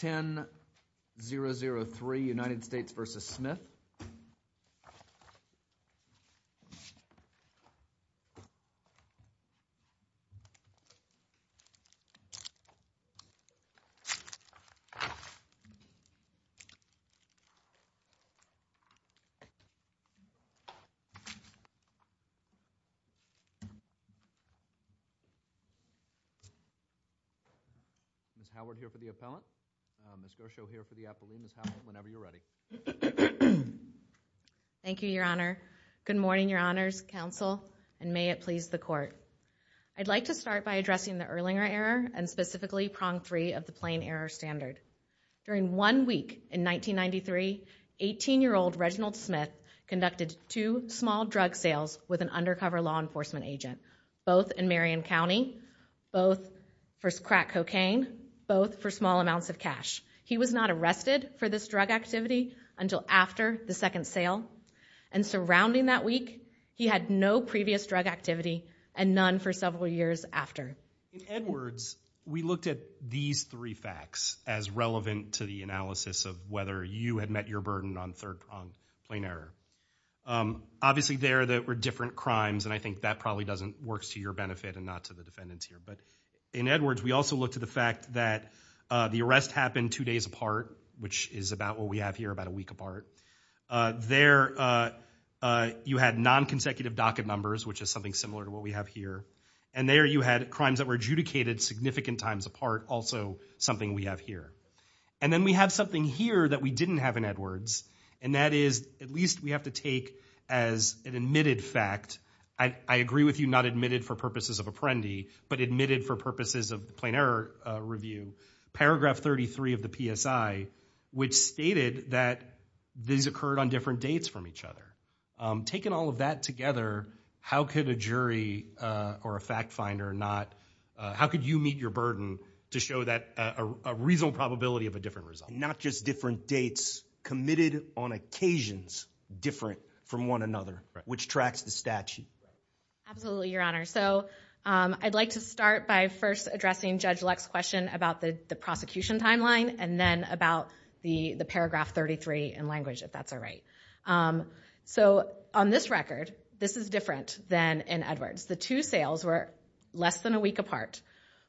10-003, United States v. Smith. Mr. Howard here for the appellant, Mr. Osho here for the appellant, whenever you're ready. Thank you, Your Honor. Good morning, Your Honors, Counsel, and may it please the Court. I'd like to start by addressing the Erlinger Error and specifically Prong 3 of the Plain Error Standard. During one week in 1993, 18-year-old Reginald Smith conducted two small drug sales with an undercover law enforcement agent, both in Marion County, both for crack cocaine, both for small amounts of cash. He was not arrested for this drug activity until after the second sale. And surrounding that week, he had no previous drug activity and none for several years after. In Edwards, we looked at these three facts as relevant to the analysis of whether you had met your burden on Plain Error. Obviously, there were different crimes, and I think that probably doesn't work to your benefit and not to the defendant's here. But in Edwards, we also looked at the fact that the arrest happened two days apart, which is about what we have here, about a week apart. There, you had non-consecutive docket numbers, which is something similar to what we have here. And there, you had crimes that were adjudicated significant times apart, also something we have here. And then we have something here that we didn't have in Edwards, and that is at least we have to take as an admitted fact. I agree with you, not admitted for purposes of Apprendi, but admitted for purposes of Plain Error review. Paragraph 33 of the PSI, which stated that these occurred on different dates from each other. Taking all of that together, how could a jury or a fact finder not – how could you meet your burden to show that a reasonable probability of a different result? Not just different dates, committed on occasions different from one another, which tracks the statute. Absolutely, Your Honor. So I'd like to start by first addressing Judge Luck's question about the prosecution timeline and then about the paragraph 33 in language, if that's all right. So on this record, this is different than in Edwards. The two sales were less than a week apart.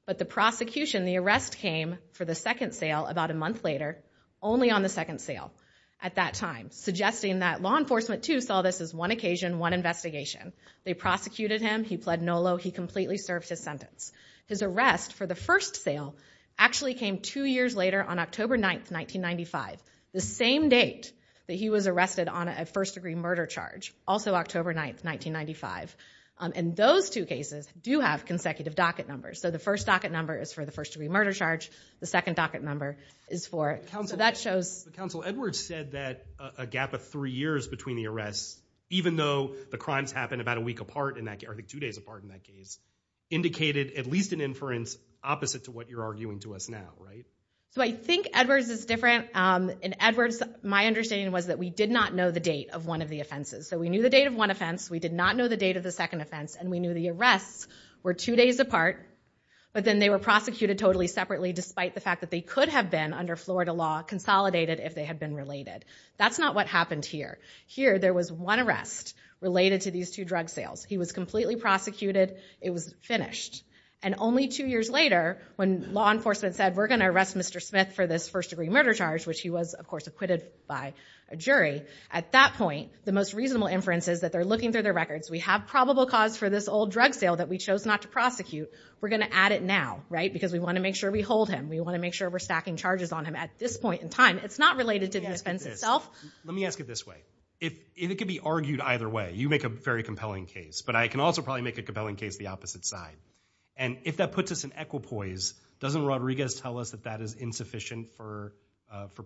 But the prosecution, the arrest came for the second sale about a month later, only on the second sale at that time, suggesting that law enforcement, too, saw this as one occasion, one investigation. They prosecuted him. He pled NOLO. He completely served his sentence. His arrest for the first sale actually came two years later on October 9, 1995, the same date that he was arrested on a first-degree murder charge, also October 9, 1995. And those two cases do have consecutive docket numbers. So the first docket number is for the first-degree murder charge. The second docket number is for – so that shows – Counsel, Edwards said that a gap of three years between the arrests, even though the crimes happened about a week apart, I think two days apart in that case, indicated at least an inference opposite to what you're arguing to us now, right? So I think Edwards is different. In Edwards, my understanding was that we did not know the date of one of the offenses. So we knew the date of one offense. We did not know the date of the second offense. And we knew the arrests were two days apart. But then they were prosecuted totally separately, despite the fact that they could have been, under Florida law, consolidated if they had been related. That's not what happened here. Here, there was one arrest related to these two drug sales. He was completely prosecuted. It was finished. And only two years later, when law enforcement said, we're going to arrest Mr. Smith for this first-degree murder charge, which he was, of course, acquitted by a jury, at that point, the most reasonable inference is that they're looking through their records. We have probable cause for this old drug sale that we chose not to prosecute. We're going to add it now, right? Because we want to make sure we hold him. We want to make sure we're stacking charges on him at this point in time. It's not related to the offense itself. Let me ask it this way. It could be argued either way. You make a very compelling case. But I can also probably make a compelling case the opposite side. And if that puts us in equipoise, doesn't Rodriguez tell us that that is insufficient for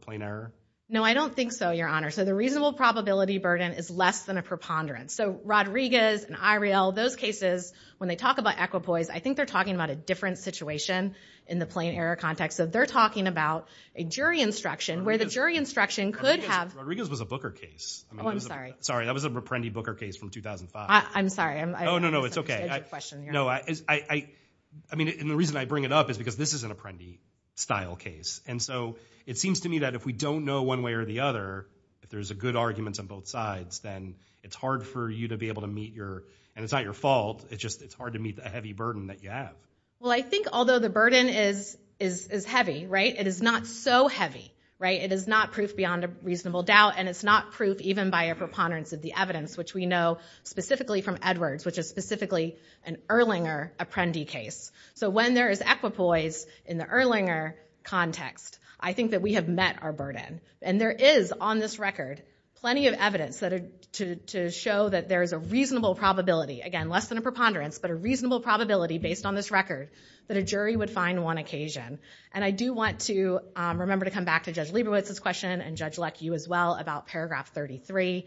plain error? No, I don't think so, Your Honor. So the reasonable probability burden is less than a preponderance. So Rodriguez and Iriel, those cases, when they talk about equipoise, I think they're talking about a different situation in the plain error context. So they're talking about a jury instruction where the jury instruction could have ‑‑ Rodriguez was a Booker case. Oh, I'm sorry. Sorry, that was an Apprendi Booker case from 2005. I'm sorry. Oh, no, no, it's okay. No, I mean, and the reason I bring it up is because this is an Apprendi-style case. And so it seems to me that if we don't know one way or the other, if there's a good argument on both sides, then it's hard for you to be able to meet your ‑‑ and it's not your fault. It's just it's hard to meet the heavy burden that you have. Well, I think although the burden is heavy, right, it is not so heavy, right? It is not proof beyond a reasonable doubt. And it's not proof even by a preponderance of the evidence, which we know specifically from Edwards, which is specifically an Erlinger Apprendi case. So when there is equipoise in the Erlinger context, I think that we have met our burden. And there is on this record plenty of evidence to show that there is a reasonable probability, again, less than a preponderance, but a reasonable probability based on this record that a jury would find one occasion. And I do want to remember to come back to Judge Lieberwitz's question and Judge Leck, you as well, about paragraph 33.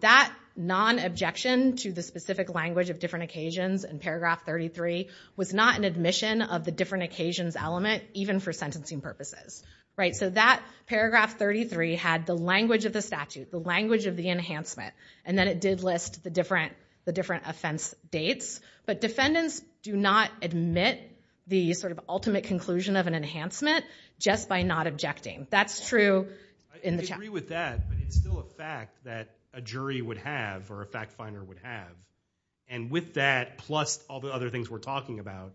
That non-objection to the specific language of different occasions in paragraph 33 was not an admission of the different occasions element even for sentencing purposes, right? So that paragraph 33 had the language of the statute, the language of the enhancement, and then it did list the different offense dates. But defendants do not admit the sort of ultimate conclusion of an enhancement just by not objecting. That's true in the ‑‑ I agree with that, but it's still a fact that a jury would have or a fact finder would have. And with that, plus all the other things we're talking about,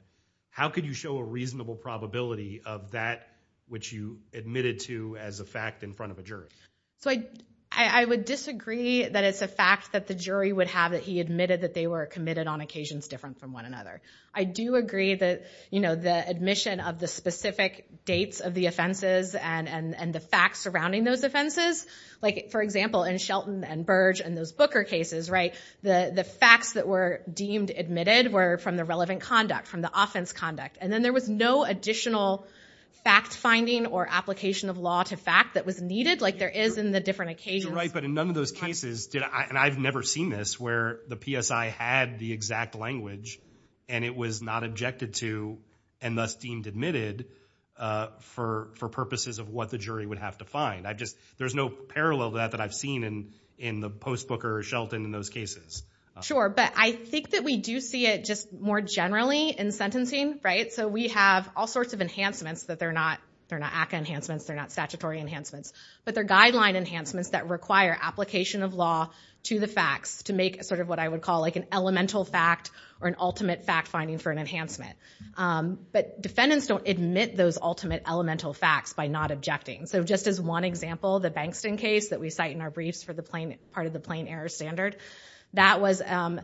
how could you show a reasonable probability of that which you admitted to as a fact in front of a jury? So I would disagree that it's a fact that the jury would have that he admitted that they were committed on occasions different from one another. I do agree that, you know, the admission of the specific dates of the offenses and the facts surrounding those offenses, like, for example, in Shelton and Burge and those Booker cases, right, the facts that were deemed admitted were from the relevant conduct, from the offense conduct. And then there was no additional fact finding or application of law to fact that was needed, like there is in the different occasions. You're right, but in none of those cases, and I've never seen this, where the PSI had the exact language and it was not objected to and thus deemed admitted for purposes of what the jury would have to find. I just, there's no parallel to that that I've seen in the Post Booker or Shelton in those cases. Sure, but I think that we do see it just more generally in sentencing, right? So we have all sorts of enhancements that they're not ACCA enhancements, they're not statutory enhancements, but they're guideline enhancements that require application of law to the facts to make sort of what I would call like an elemental fact or an ultimate fact finding for an enhancement. But defendants don't admit those ultimate elemental facts by not objecting. So just as one example, the Bankston case that we cite in our briefs for the part of the plain error standard, that was an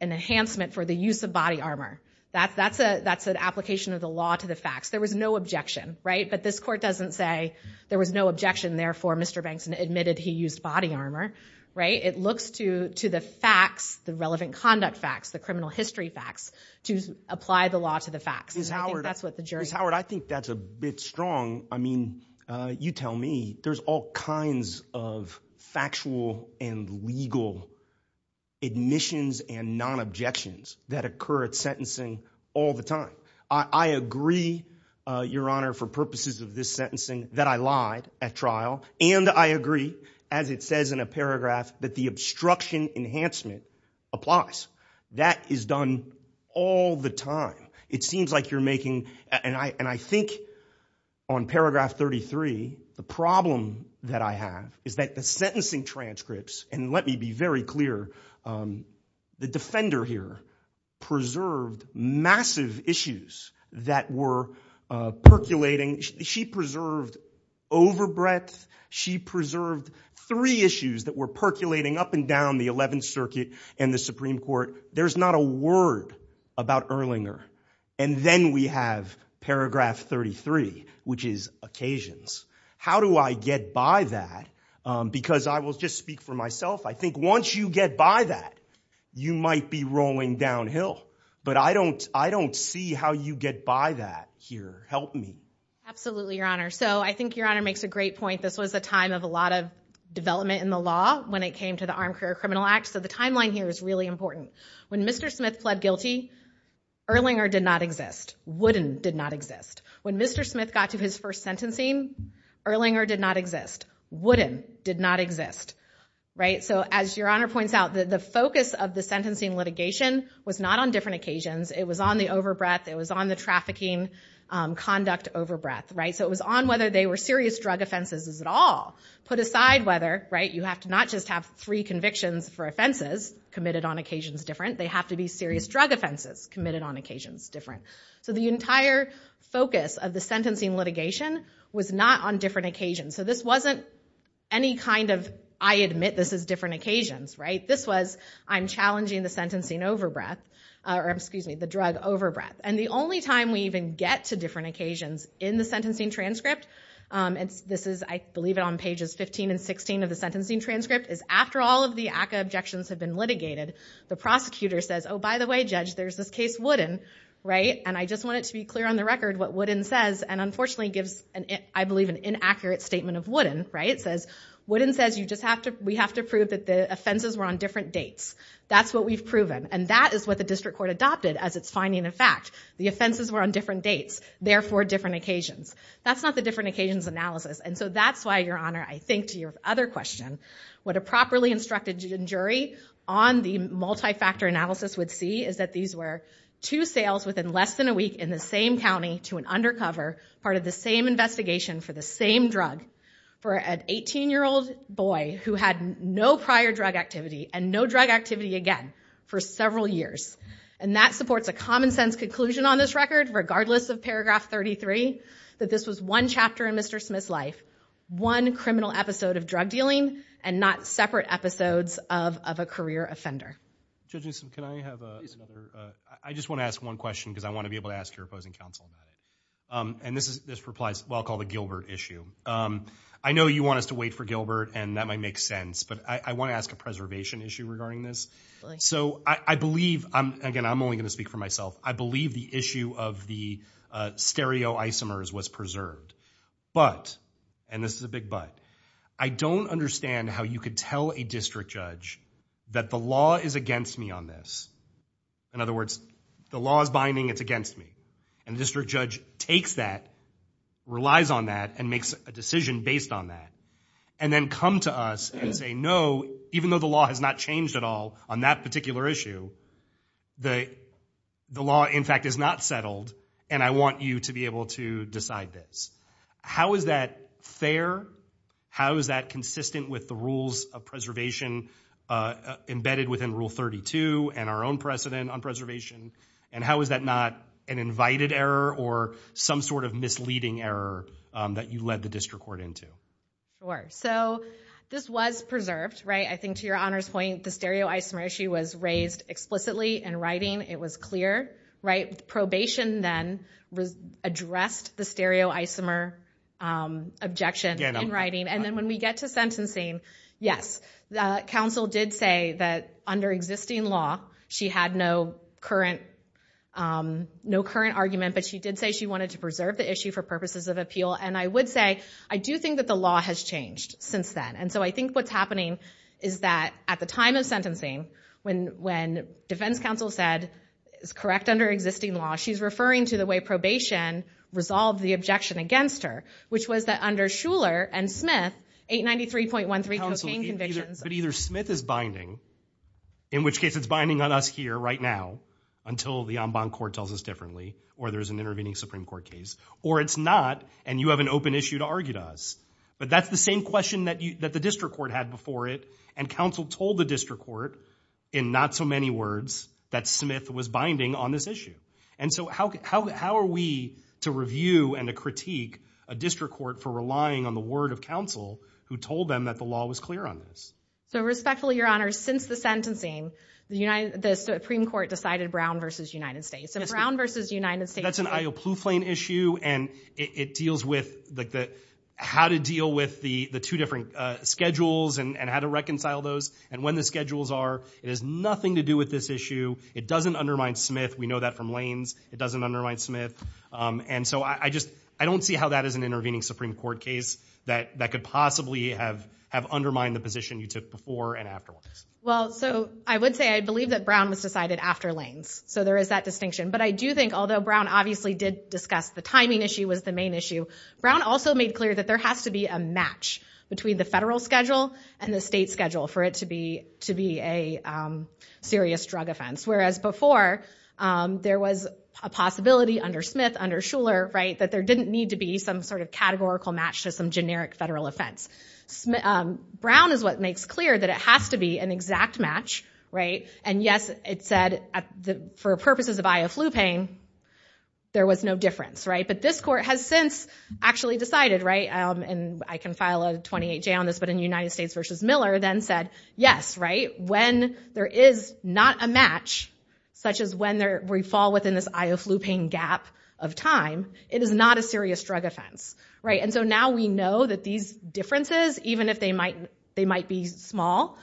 enhancement for the use of body armor. That's an application of the law to the facts. There was no objection, right? But this court doesn't say there was no objection, therefore Mr. Bankston admitted he used body armor, right? It looks to the facts, the relevant conduct facts, the criminal history facts, to apply the law to the facts. Ms. Howard, I think that's a bit strong. I mean, you tell me. There's all kinds of factual and legal admissions and non-objections that occur at sentencing all the time. I agree, Your Honor, for purposes of this sentencing, that I lied at trial, and I agree, as it says in a paragraph, that the obstruction enhancement applies. That is done all the time. It seems like you're making, and I think on paragraph 33, the problem that I have is that the sentencing transcripts, and let me be very clear, the defender here preserved massive issues that were percolating. She preserved overbreadth. She preserved three issues that were percolating up and down the Eleventh Circuit and the Supreme Court. There's not a word about Erlinger. And then we have paragraph 33, which is occasions. How do I get by that? Because I will just speak for myself. I think once you get by that, you might be rolling downhill, but I don't see how you get by that here. Help me. Absolutely, Your Honor. So I think Your Honor makes a great point. This was a time of a lot of development in the law when it came to the Armed Career Criminal Act, so the timeline here is really important. When Mr. Smith fled guilty, Erlinger did not exist. Wooden did not exist. When Mr. Smith got to his first sentencing, Erlinger did not exist. Wooden did not exist. So as Your Honor points out, the focus of the sentencing litigation was not on different occasions. It was on the overbreadth. It was on the trafficking conduct overbreadth. So it was on whether they were serious drug offenses at all. Put aside whether, you have to not just have three convictions for offenses committed on occasions different. They have to be serious drug offenses committed on occasions different. So the entire focus of the sentencing litigation was not on different occasions. So this wasn't any kind of, I admit this is different occasions. This was, I'm challenging the drug overbreadth. And the only time we even get to different occasions in the sentencing transcript, and this is, I believe it on pages 15 and 16 of the sentencing transcript, is after all of the ACCA objections have been litigated, the prosecutor says, oh by the way Judge, there's this case Wooden, and I just want it to be clear on the record what Wooden says, and unfortunately gives, I believe, an inaccurate statement of Wooden. It says, Wooden says we have to prove that the offenses were on different dates. That's what we've proven. And that is what the district court adopted as its finding of fact. The offenses were on different dates, therefore different occasions. That's not the different occasions analysis. And so that's why, Your Honor, I think to your other question, what a properly instructed jury on the multi-factor analysis would see is that these were two sales within less than a week in the same county to an undercover part of the same investigation for the same drug for an 18-year-old boy who had no prior drug activity and no drug activity again for several years. And that supports a common sense conclusion on this record, regardless of paragraph 33, that this was one chapter in Mr. Smith's life, one criminal episode of drug dealing, and not separate episodes of a career offender. Judge Newsom, can I have another? I just want to ask one question because I want to be able to ask your opposing counsel. And this replies to what I'll call the Gilbert issue. I know you want us to wait for Gilbert, and that might make sense, but I want to ask a preservation issue regarding this. So I believe, again I'm only going to speak for myself, I believe the issue of the stereoisomers was preserved. But, and this is a big but, I don't understand how you could tell a district judge that the law is against me on this. In other words, the law is binding, it's against me. And the district judge takes that, relies on that, and makes a decision based on that, and then come to us and say no, even though the law has not changed at all on that particular issue, the law in fact is not settled, and I want you to be able to decide this. How is that fair? How is that consistent with the rules of preservation embedded within Rule 32, and our own precedent on preservation? And how is that not an invited error, or some sort of misleading error that you led the district court into? Sure, so this was preserved, right? I think to your Honor's point, the stereoisomer issue was raised explicitly in writing. It was clear, right? Probation then addressed the stereoisomer objection in writing. And then when we get to sentencing, yes, counsel did say that under existing law, she had no current argument, but she did say she wanted to preserve the issue for purposes of appeal. And I would say, I do think that the law has changed since then. And so I think what's happening is that at the time of sentencing, when defense counsel said it's correct under existing law, she's referring to the way probation resolved the objection against her, which was that under Shuler and Smith, 893.13 cocaine convictions. But either Smith is binding, in which case it's binding on us here right now, until the en banc court tells us differently, or there's an intervening Supreme Court case, or it's not, and you have an open issue to argue to us. But that's the same question that the district court had before it, and counsel told the district court, in not so many words, that Smith was binding on this issue. And so how are we to review and to critique a district court for relying on the word of counsel who told them that the law was clear on this? So respectfully, Your Honor, since the sentencing, the Supreme Court decided Brown v. United States. So Brown v. United States... That's an I.O. Ploufflin issue, and it deals with how to deal with the two different schedules and how to reconcile those, and when the schedules are. It has nothing to do with this issue. It doesn't undermine Smith. We know that from Lanes. It doesn't undermine Smith. And so I don't see how that is an intervening Supreme Court case that could possibly have undermined the position you took before and afterwards. Well, so I would say I believe that Brown was decided after Lanes. So there is that distinction. But I do think, although Brown obviously did discuss the timing issue was the main issue, Brown also made clear that there has to be a match between the federal schedule and the state schedule for it to be a serious drug offense, whereas before there was a possibility under Smith, under Shuler, that there didn't need to be some sort of categorical match to some generic federal offense. Brown is what makes clear that it has to be an exact match, and, yes, it said for purposes of Ioflupine, there was no difference. But this court has since actually decided, and I can file a 28-J on this, but in United States v. Miller then said, yes, when there is not a match, such as when we fall within this Ioflupine gap of time, it is not a serious drug offense. And so now we know that these differences, even if they might be small,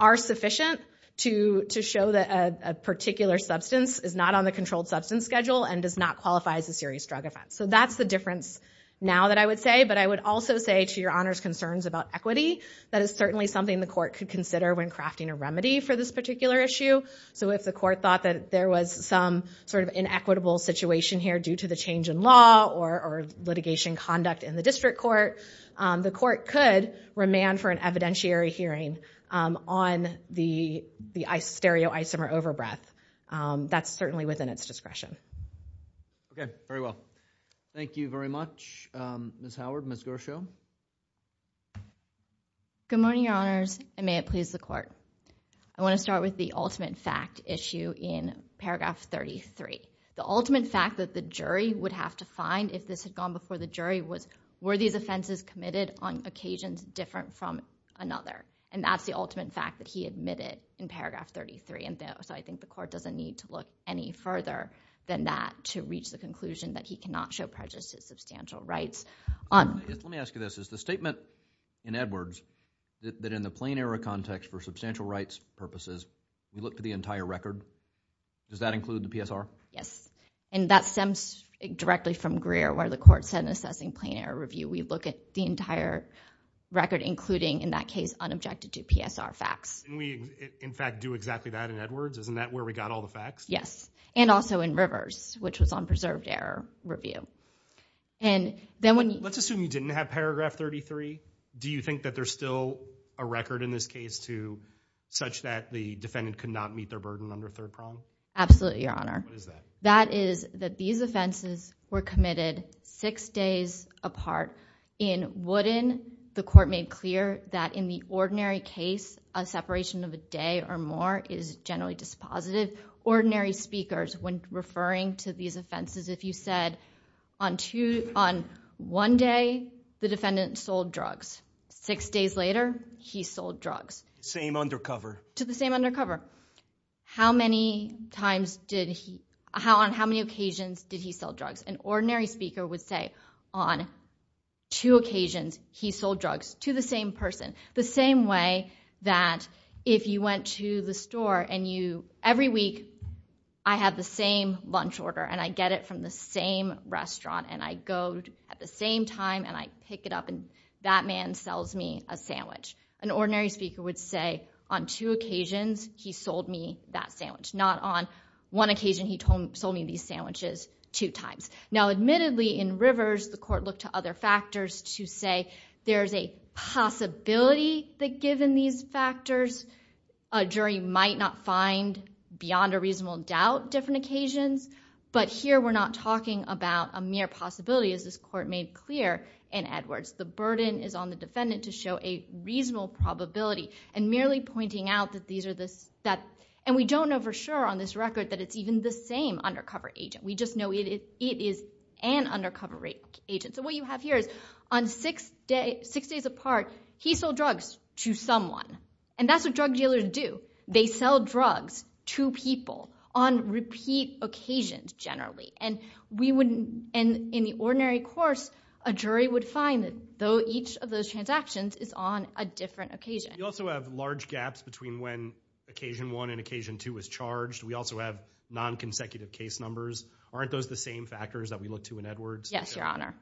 are sufficient to show that a particular substance is not on the controlled substance schedule and does not qualify as a serious drug offense. So that's the difference now that I would say, but I would also say to Your Honor's concerns about equity, that is certainly something the court could consider when crafting a remedy for this particular issue. So if the court thought that there was some sort of inequitable situation here due to the change in law or litigation conduct in the district court, the court could remand for an evidentiary hearing on the stereoisomer overbreath. That's certainly within its discretion. Okay, very well. Thank you very much, Ms. Howard. Ms. Gershow? Good morning, Your Honors, and may it please the court. I want to start with the ultimate fact issue in paragraph 33. The ultimate fact that the jury would have to find if this had gone before the jury was, were these offenses committed on occasions different from another? And that's the ultimate fact that he admitted in paragraph 33. So I think the court doesn't need to look any further than that to reach the conclusion that he cannot show prejudice to substantial rights. Let me ask you this. Is the statement in Edwards that in the plain error context for substantial rights purposes, you look for the entire record? Does that include the PSR? Yes, and that stems directly from Greer, where the court sent an assessing plain error review. We look at the entire record, including, in that case, unobjected to PSR facts. And we, in fact, do exactly that in Edwards. Isn't that where we got all the facts? Yes, and also in Rivers, which was on preserved error review. Let's assume you didn't have paragraph 33. Do you think that there's still a record in this case such that the defendant could not meet their burden under third prong? Absolutely, Your Honor. What is that? That is that these offenses were committed six days apart. In Woodin, the court made clear that in the ordinary case, a separation of a day or more is generally dispositive. Ordinary speakers, when referring to these offenses, if you said, on one day, the defendant sold drugs. Six days later, he sold drugs. Same undercover? To the same undercover. How many times did he... On how many occasions did he sell drugs? An ordinary speaker would say, on two occasions, he sold drugs to the same person. The same way that if you went to the store and you... Every week, I have the same lunch order and I get it from the same restaurant and I go at the same time and I pick it up and that man sells me a sandwich. An ordinary speaker would say, on two occasions, he sold me that sandwich. Not on one occasion, he sold me these sandwiches two times. Now, admittedly, in Rivers, the court looked to other factors to say there's a possibility that given these factors, a jury might not find beyond a reasonable doubt different occasions, but here we're not talking about a mere possibility as this court made clear in Edwards. The burden is on the defendant to show a reasonable probability and merely pointing out that these are the... And we don't know for sure on this record that it's even the same undercover agent. We just know it is an undercover agent. So what you have here is, on six days apart, he sold drugs to someone. And that's what drug dealers do. They sell drugs to people on repeat occasions, generally. And in the ordinary course, a jury would find that each of those transactions is on a different occasion. You also have large gaps between when occasion one and occasion two was charged. We also have non-consecutive case numbers. Aren't those the same factors that we look to in Edwards? Yes, Your Honor.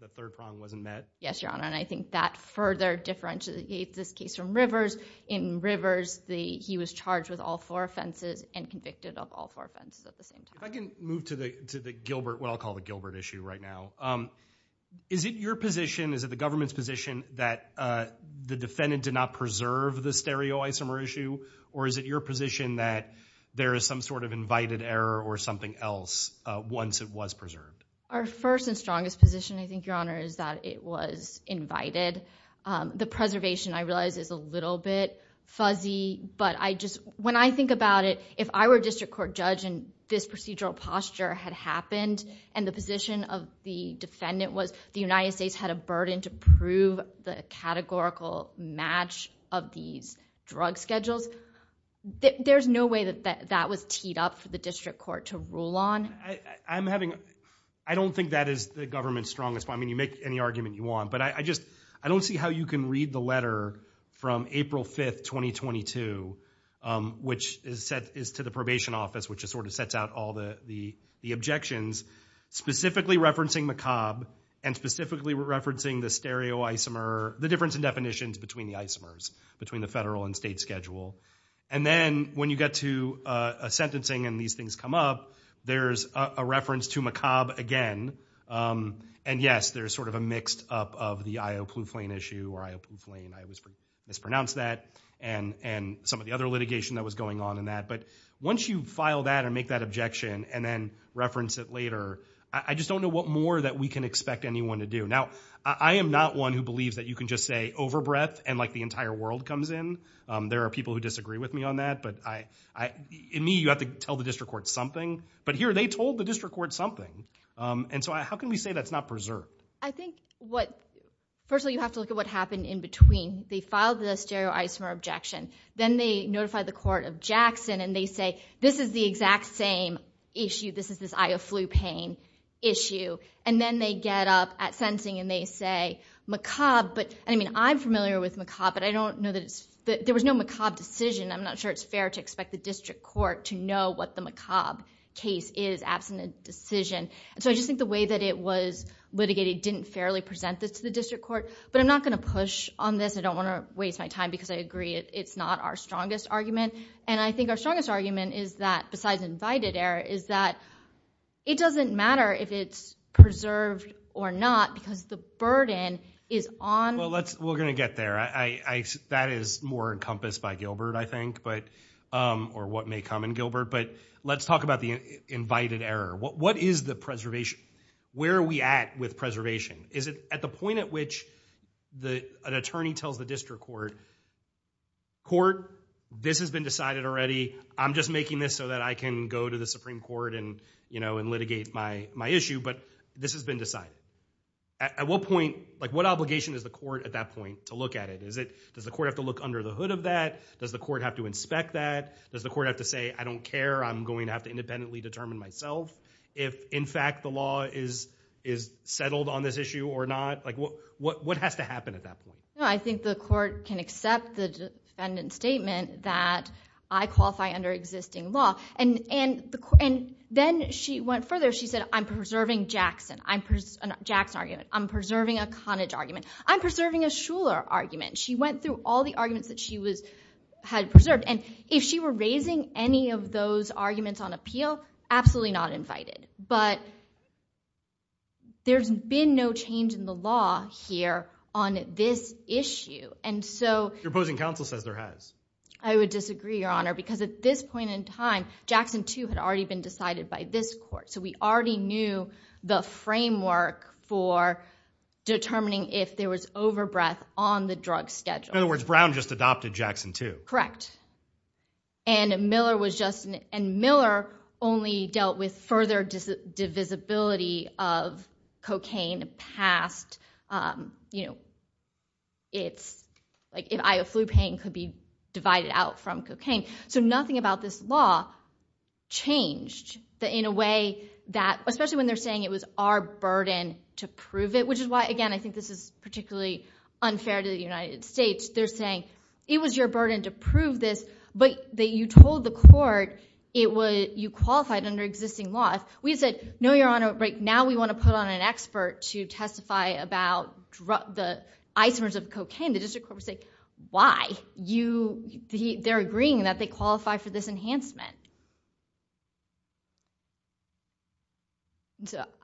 The third problem wasn't met? Yes, Your Honor. And I think that further differentiates this case from Rivers. In Rivers, he was charged with all four offenses and convicted of all four offenses at the same time. If I can move to the Gilbert, what I'll call the Gilbert issue right now. Is it your position, is it the government's position, that the defendant did not preserve the stereoisomer issue? Or is it your position that there is some sort of invited error or something else once it was preserved? Our first and strongest position, I think, Your Honor, is that it was invited. The preservation, I realize, is a little bit fuzzy. But when I think about it, if I were a district court judge and this procedural posture had happened and the position of the defendant was that the United States had a burden to prove the categorical match of these drug schedules, there's no way that that was teed up for the district court to rule on. I don't think that is the government's strongest point. I mean, you make any argument you want. But I don't see how you can read the letter from April 5, 2022, which is to the probation office, which sort of sets out all the objections, specifically referencing macabre and specifically referencing the stereoisomer, the difference in definitions between the isomers, between the federal and state schedule. And then when you get to sentencing and these things come up, there's a reference to macabre again. And, yes, there's sort of a mixed up of the I.O. Plouffe Lane issue, or I.O. Plouffe Lane, I mispronounced that, and some of the other litigation that was going on in that. But once you file that and make that objection and then reference it later, I just don't know what more that we can expect anyone to do. Now, I am not one who believes that you can just say overbreath and, like, the entire world comes in. There are people who disagree with me on that. But in me, you have to tell the district court something. But here, they told the district court something. And so how can we say that's not preserved? I think what—first of all, you have to look at what happened in between. They filed the stereoisomer objection. Then they notified the court of Jackson, and they say this is the exact same issue. This is this I.O. Plouffe Lane issue. And then they get up at sentencing and they say macabre. But, I mean, I'm familiar with macabre, but I don't know that it's— there was no macabre decision. I'm not sure it's fair to expect the district court to know what the macabre case is, absent a decision. So I just think the way that it was litigated didn't fairly present this to the district court. But I'm not going to push on this. I don't want to waste my time because I agree it's not our strongest argument. And I think our strongest argument is that, besides invited error, is that it doesn't matter if it's preserved or not because the burden is on— Well, we're going to get there. That is more encompassed by Gilbert, I think, or what may come in Gilbert. But let's talk about the invited error. What is the preservation? Where are we at with preservation? Is it at the point at which an attorney tells the district court, this has been decided already. I'm just making this so that I can go to the Supreme Court and litigate my issue, but this has been decided. At what point—like, what obligation is the court at that point to look at it? Does the court have to look under the hood of that? Does the court have to inspect that? Does the court have to say, I don't care. I'm going to have to independently determine myself if, in fact, the law is settled on this issue or not? Like, what has to happen at that point? No, I think the court can accept the defendant's statement that I qualify under existing law. And then she went further. She said, I'm preserving Jackson argument. I'm preserving a Conage argument. I'm preserving a Shuler argument. She went through all the arguments that she had preserved. And if she were raising any of those arguments on appeal, absolutely not invited. But there's been no change in the law here on this issue. And so— Your opposing counsel says there has. I would disagree, Your Honor, because at this point in time, Jackson 2 had already been decided by this court. So we already knew the framework for determining if there was overbreath on the drug schedule. In other words, Brown just adopted Jackson 2. Correct. And Miller was just— And Miller only dealt with further divisibility of cocaine past its— Like, if flu pain could be divided out from cocaine. So nothing about this law changed in a way that— especially when they're saying it was our burden to prove it, which is why, again, I think this is particularly unfair to the United States. They're saying it was your burden to prove this, but you told the court you qualified under existing law. If we said, no, Your Honor, but now we want to put on an expert to testify about the isomers of cocaine, the district court would say, why? They're agreeing that they qualify for this enhancement.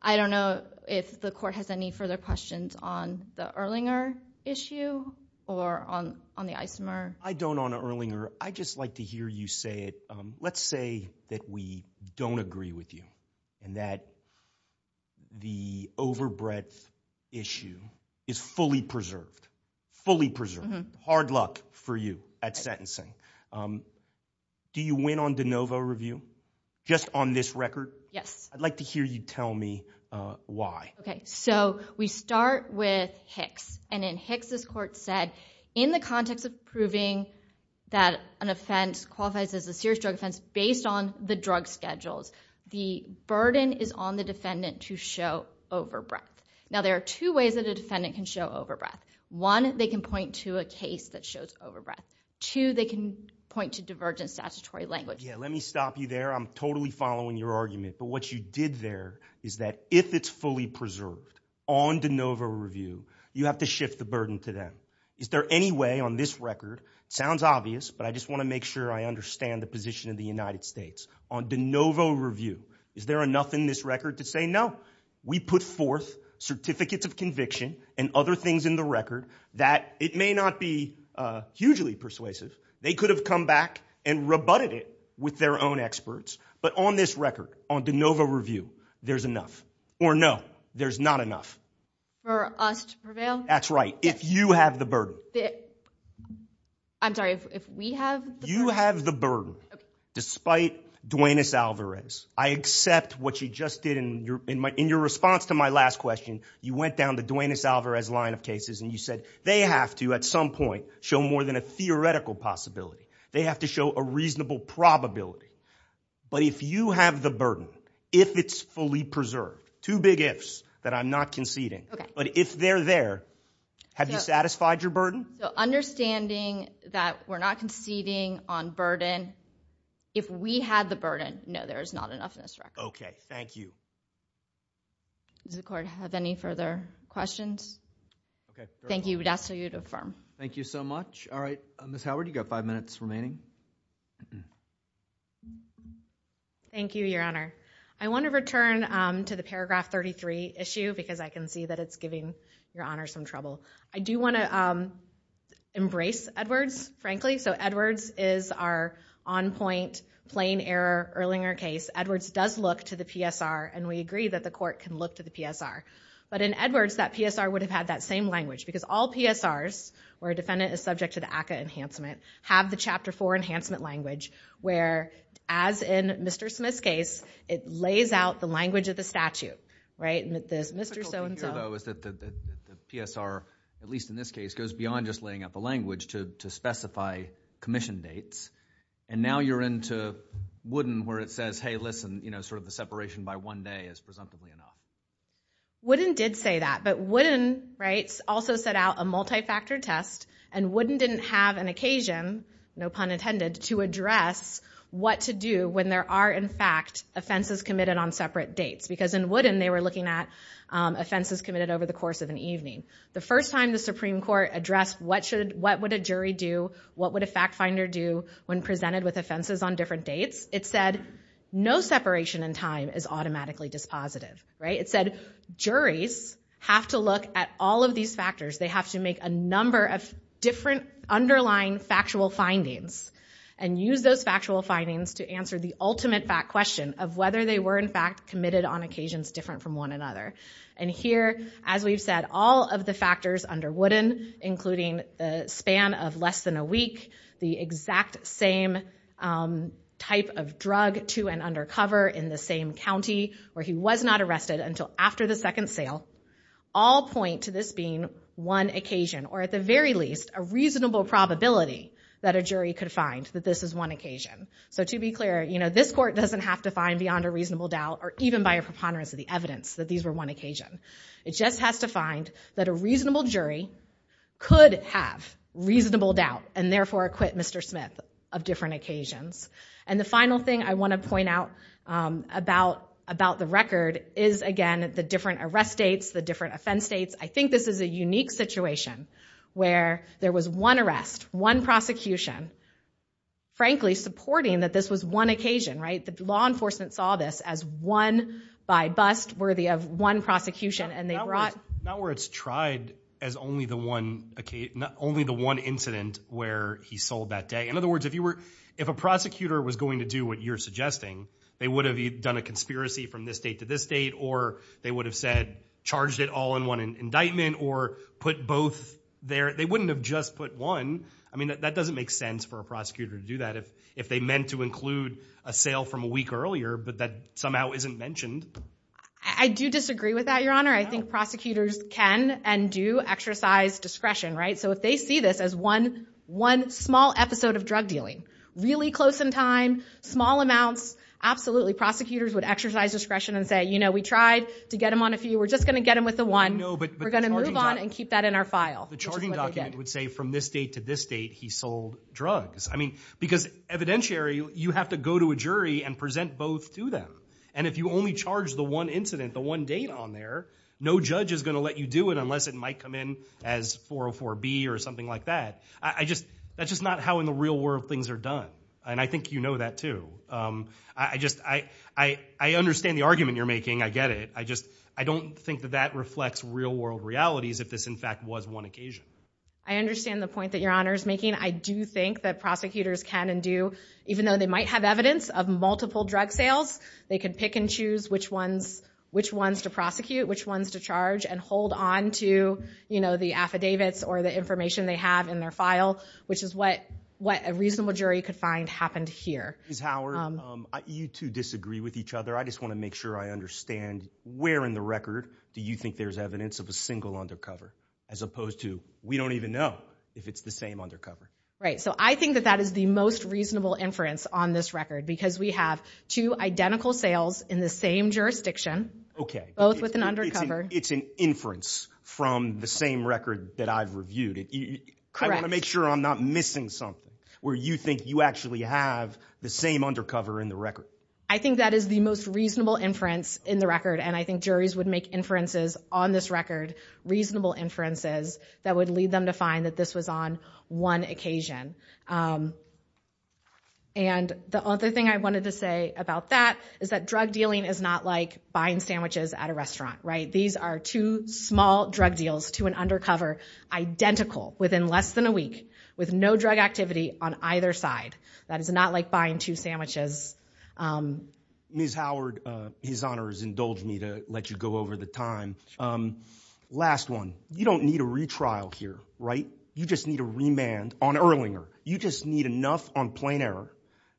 I don't know if the court has any further questions on the Erlinger issue or on the isomer. I don't on Erlinger. I'd just like to hear you say it. Let's say that we don't agree with you and that the overbreath issue is fully preserved. Fully preserved. Hard luck for you at sentencing. Do you win on de novo review? Just on this record? Yes. I'd like to hear you tell me why. We start with Hicks. In Hicks, this court said, in the context of proving that an offense qualifies as a serious drug offense based on the drug schedules, the burden is on the defendant to show overbreath. There are two ways that a defendant can show overbreath. One, they can point to a case that shows overbreath. Two, they can point to divergent statutory language. Let me stop you there. I'm totally following your argument. But what you did there is that if it's fully preserved on de novo review, you have to shift the burden to them. Is there any way on this record? It sounds obvious, but I just want to make sure I understand the position of the United States. On de novo review, is there enough in this record to say no? We put forth certificates of conviction and other things in the record that it may not be hugely persuasive. They could have come back and rebutted it with their own experts. But on this record, on de novo review, there's enough. Or no, there's not enough. For us to prevail? That's right. If you have the burden. I'm sorry, if we have the burden? You have the burden. Despite Duaneis Alvarez, I accept what you just did. In your response to my last question, you went down the Duaneis Alvarez line of cases and you said they have to, at some point, show more than a theoretical possibility. They have to show a reasonable probability. But if you have the burden, if it's fully preserved, two big ifs that I'm not conceding, but if they're there, have you satisfied your burden? Understanding that we're not conceding on burden, if we had the burden, no, there's not enough in this record. Okay, thank you. Does the court have any further questions? Thank you. We'd ask that you would affirm. Thank you so much. All right, Ms. Howard, you've got five minutes remaining. Thank you, Your Honor. I want to return to the paragraph 33 issue because I can see that it's giving Your Honor some trouble. I do want to embrace Edwards, frankly. Edwards is our on-point plain error Erlinger case. Edwards does look to the PSR, and we agree that the court can look to the PSR. But in Edwards, that PSR would have had that same language because all PSRs where a defendant is subject to the ACCA enhancement have the Chapter 4 enhancement language, where, as in Mr. Smith's case, it lays out the language of the statute, right? The Mr. So-and-so... The difficulty here, though, is that the PSR, at least in this case, goes beyond just laying out the language to specify commission dates, and now you're into Wooden where it says, hey, listen, you know, sort of the separation by one day is presumptively enough. Wooden did say that, but Wooden, right, also set out a multi-factor test, and Wooden didn't have an occasion, no pun intended, to address what to do when there are, in fact, offenses committed on separate dates, because in Wooden they were looking at offenses committed over the course of an evening. The first time the Supreme Court addressed what would a jury do, what would a fact finder do when presented with offenses on different dates, it said no separation in time is automatically dispositive, right? It said juries have to look at all of these factors. They have to make a number of different underlying factual findings and use those factual findings to answer the ultimate fact question of whether they were, in fact, committed on occasions different from one another. And here, as we've said, all of the factors under Wooden, including the span of less than a week, the exact same type of drug to and under cover in the same county where he was not arrested until after the second sale, all point to this being one occasion, or at the very least a reasonable probability that a jury could find that this is one occasion. So to be clear, this court doesn't have to find beyond a reasonable doubt or even by a preponderance of the evidence that these were one occasion. It just has to find that a reasonable jury could have reasonable doubt and therefore acquit Mr. Smith of different occasions. And the final thing I want to point out about the record is, again, the different arrest dates, the different offense dates. I think this is a unique situation where there was one arrest, one prosecution, frankly, supporting that this was one occasion, right? The law enforcement saw this as one by bust, worthy of one prosecution, and they brought... Not where it's tried as only the one incident where he sold that day. In other words, if a prosecutor was going to do what you're suggesting, they would have either done a conspiracy from this date to this date or they would have said, charged it all in one indictment or put both there. They wouldn't have just put one. I mean, that doesn't make sense for a prosecutor to do that if they meant to include a sale from a week earlier but that somehow isn't mentioned. I do disagree with that, Your Honor. I think prosecutors can and do exercise discretion, right? So if they see this as one small episode of drug dealing, really close in time, small amounts, absolutely, prosecutors would exercise discretion and say, you know, we tried to get him on a few. We're just going to get him with the one. We're going to move on and keep that in our file. The charging document would say from this date to this date he sold drugs. I mean, because evidentiary, you have to go to a jury and present both to them. And if you only charge the one incident, the one date on there, no judge is going to let you do it unless it might come in as 404B or something like that. I just, that's just not how in the real world things are done. And I think you know that too. I just, I understand the argument you're making. I get it. I just, I don't think that that reflects real world realities if this, in fact, was one occasion. I understand the point that Your Honor is making. I do think that prosecutors can and do, even though they might have evidence of multiple drug sales, they can pick and choose which ones to prosecute, which ones to charge, and hold on to, you know, the affidavits or the information they have in their file, which is what a reasonable jury could find happened here. Ms. Howard, you two disagree with each other. I just want to make sure I understand where in the record do you think there's evidence of a single undercover, as opposed to we don't even know if it's the same undercover. Right. So I think that that is the most reasonable inference on this record because we have two identical sales in the same jurisdiction, both with an undercover. It's an inference from the same record that I've reviewed. Correct. I want to make sure I'm not missing something where you think you actually have the same undercover in the record. I think that is the most reasonable inference in the record, and I think juries would make inferences on this record, reasonable inferences, that would lead them to find that this was on one occasion. And the other thing I wanted to say about that is that drug dealing is not like buying sandwiches at a restaurant, right? These are two small drug deals to an undercover, identical within less than a week, with no drug activity on either side. That is not like buying two sandwiches. Ms. Howard, his Honor has indulged me to let you go over the time. Last one. You don't need a retrial here, right? You just need a remand on Erlinger. You just need enough on Plain Air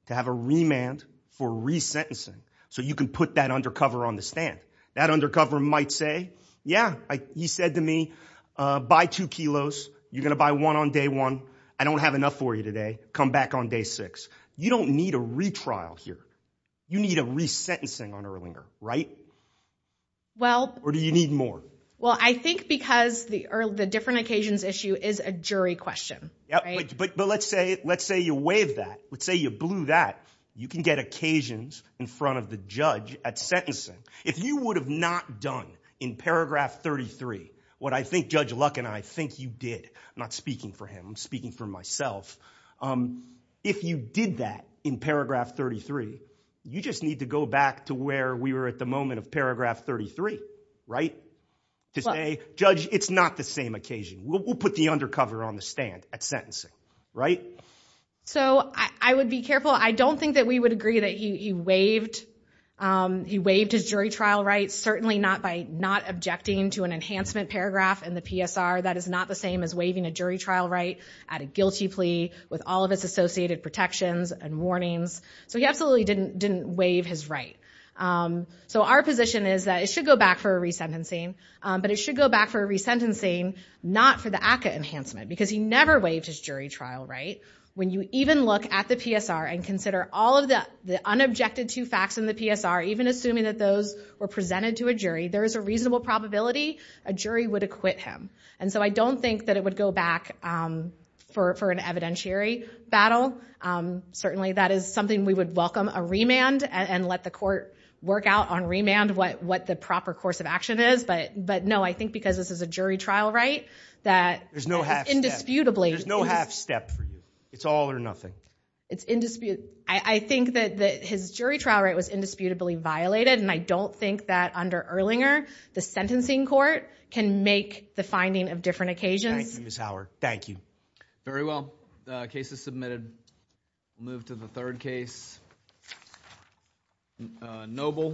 to have a remand for resentencing so you can put that undercover on the stand. That undercover might say, yeah, he said to me, buy two kilos. You're going to buy one on day one. I don't have enough for you today. Come back on day six. You don't need a retrial here. You need a resentencing on Erlinger, right? Or do you need more? Well, I think because the different occasions issue is a jury question. But let's say you waive that. Let's say you blew that. You can get occasions in front of the judge at sentencing. If you would have not done in paragraph 33 what I think Judge Luck and I think you did, I'm not speaking for him, I'm speaking for myself. If you did that in paragraph 33, you just need to go back to where we were at the moment of paragraph 33, right? To say, judge, it's not the same occasion. We'll put the undercover on the stand at sentencing, right? So I would be careful. I don't think that we would agree that you waived. He waived his jury trial rights, certainly not by not objecting to an enhancement paragraph in the PSR. That is not the same as waiving a jury trial right at a guilty plea with all of its associated protections and warnings. So he absolutely didn't waive his right. So our position is that it should go back for a resentencing, but it should go back for a resentencing not for the ACCA enhancement because he never waived his jury trial right. When you even look at the PSR and consider all of the unobjected to facts in the PSR, even assuming that those were presented to a jury, there is a reasonable probability a jury would acquit him. And so I don't think that it would go back for an evidentiary battle. Certainly that is something we would welcome a remand and let the court work out on remand what the proper course of action is. But no, I think because this is a jury trial right, that indisputably... There's no half step for you. It's all or nothing. It's indisputable. I think that his jury trial right was indisputably violated and I don't think that under Erlinger, the sentencing court can make the finding of different occasions. Thank you, Ms. Howard. Thank you. Very well. The case is submitted. We'll move to the third case. Noble.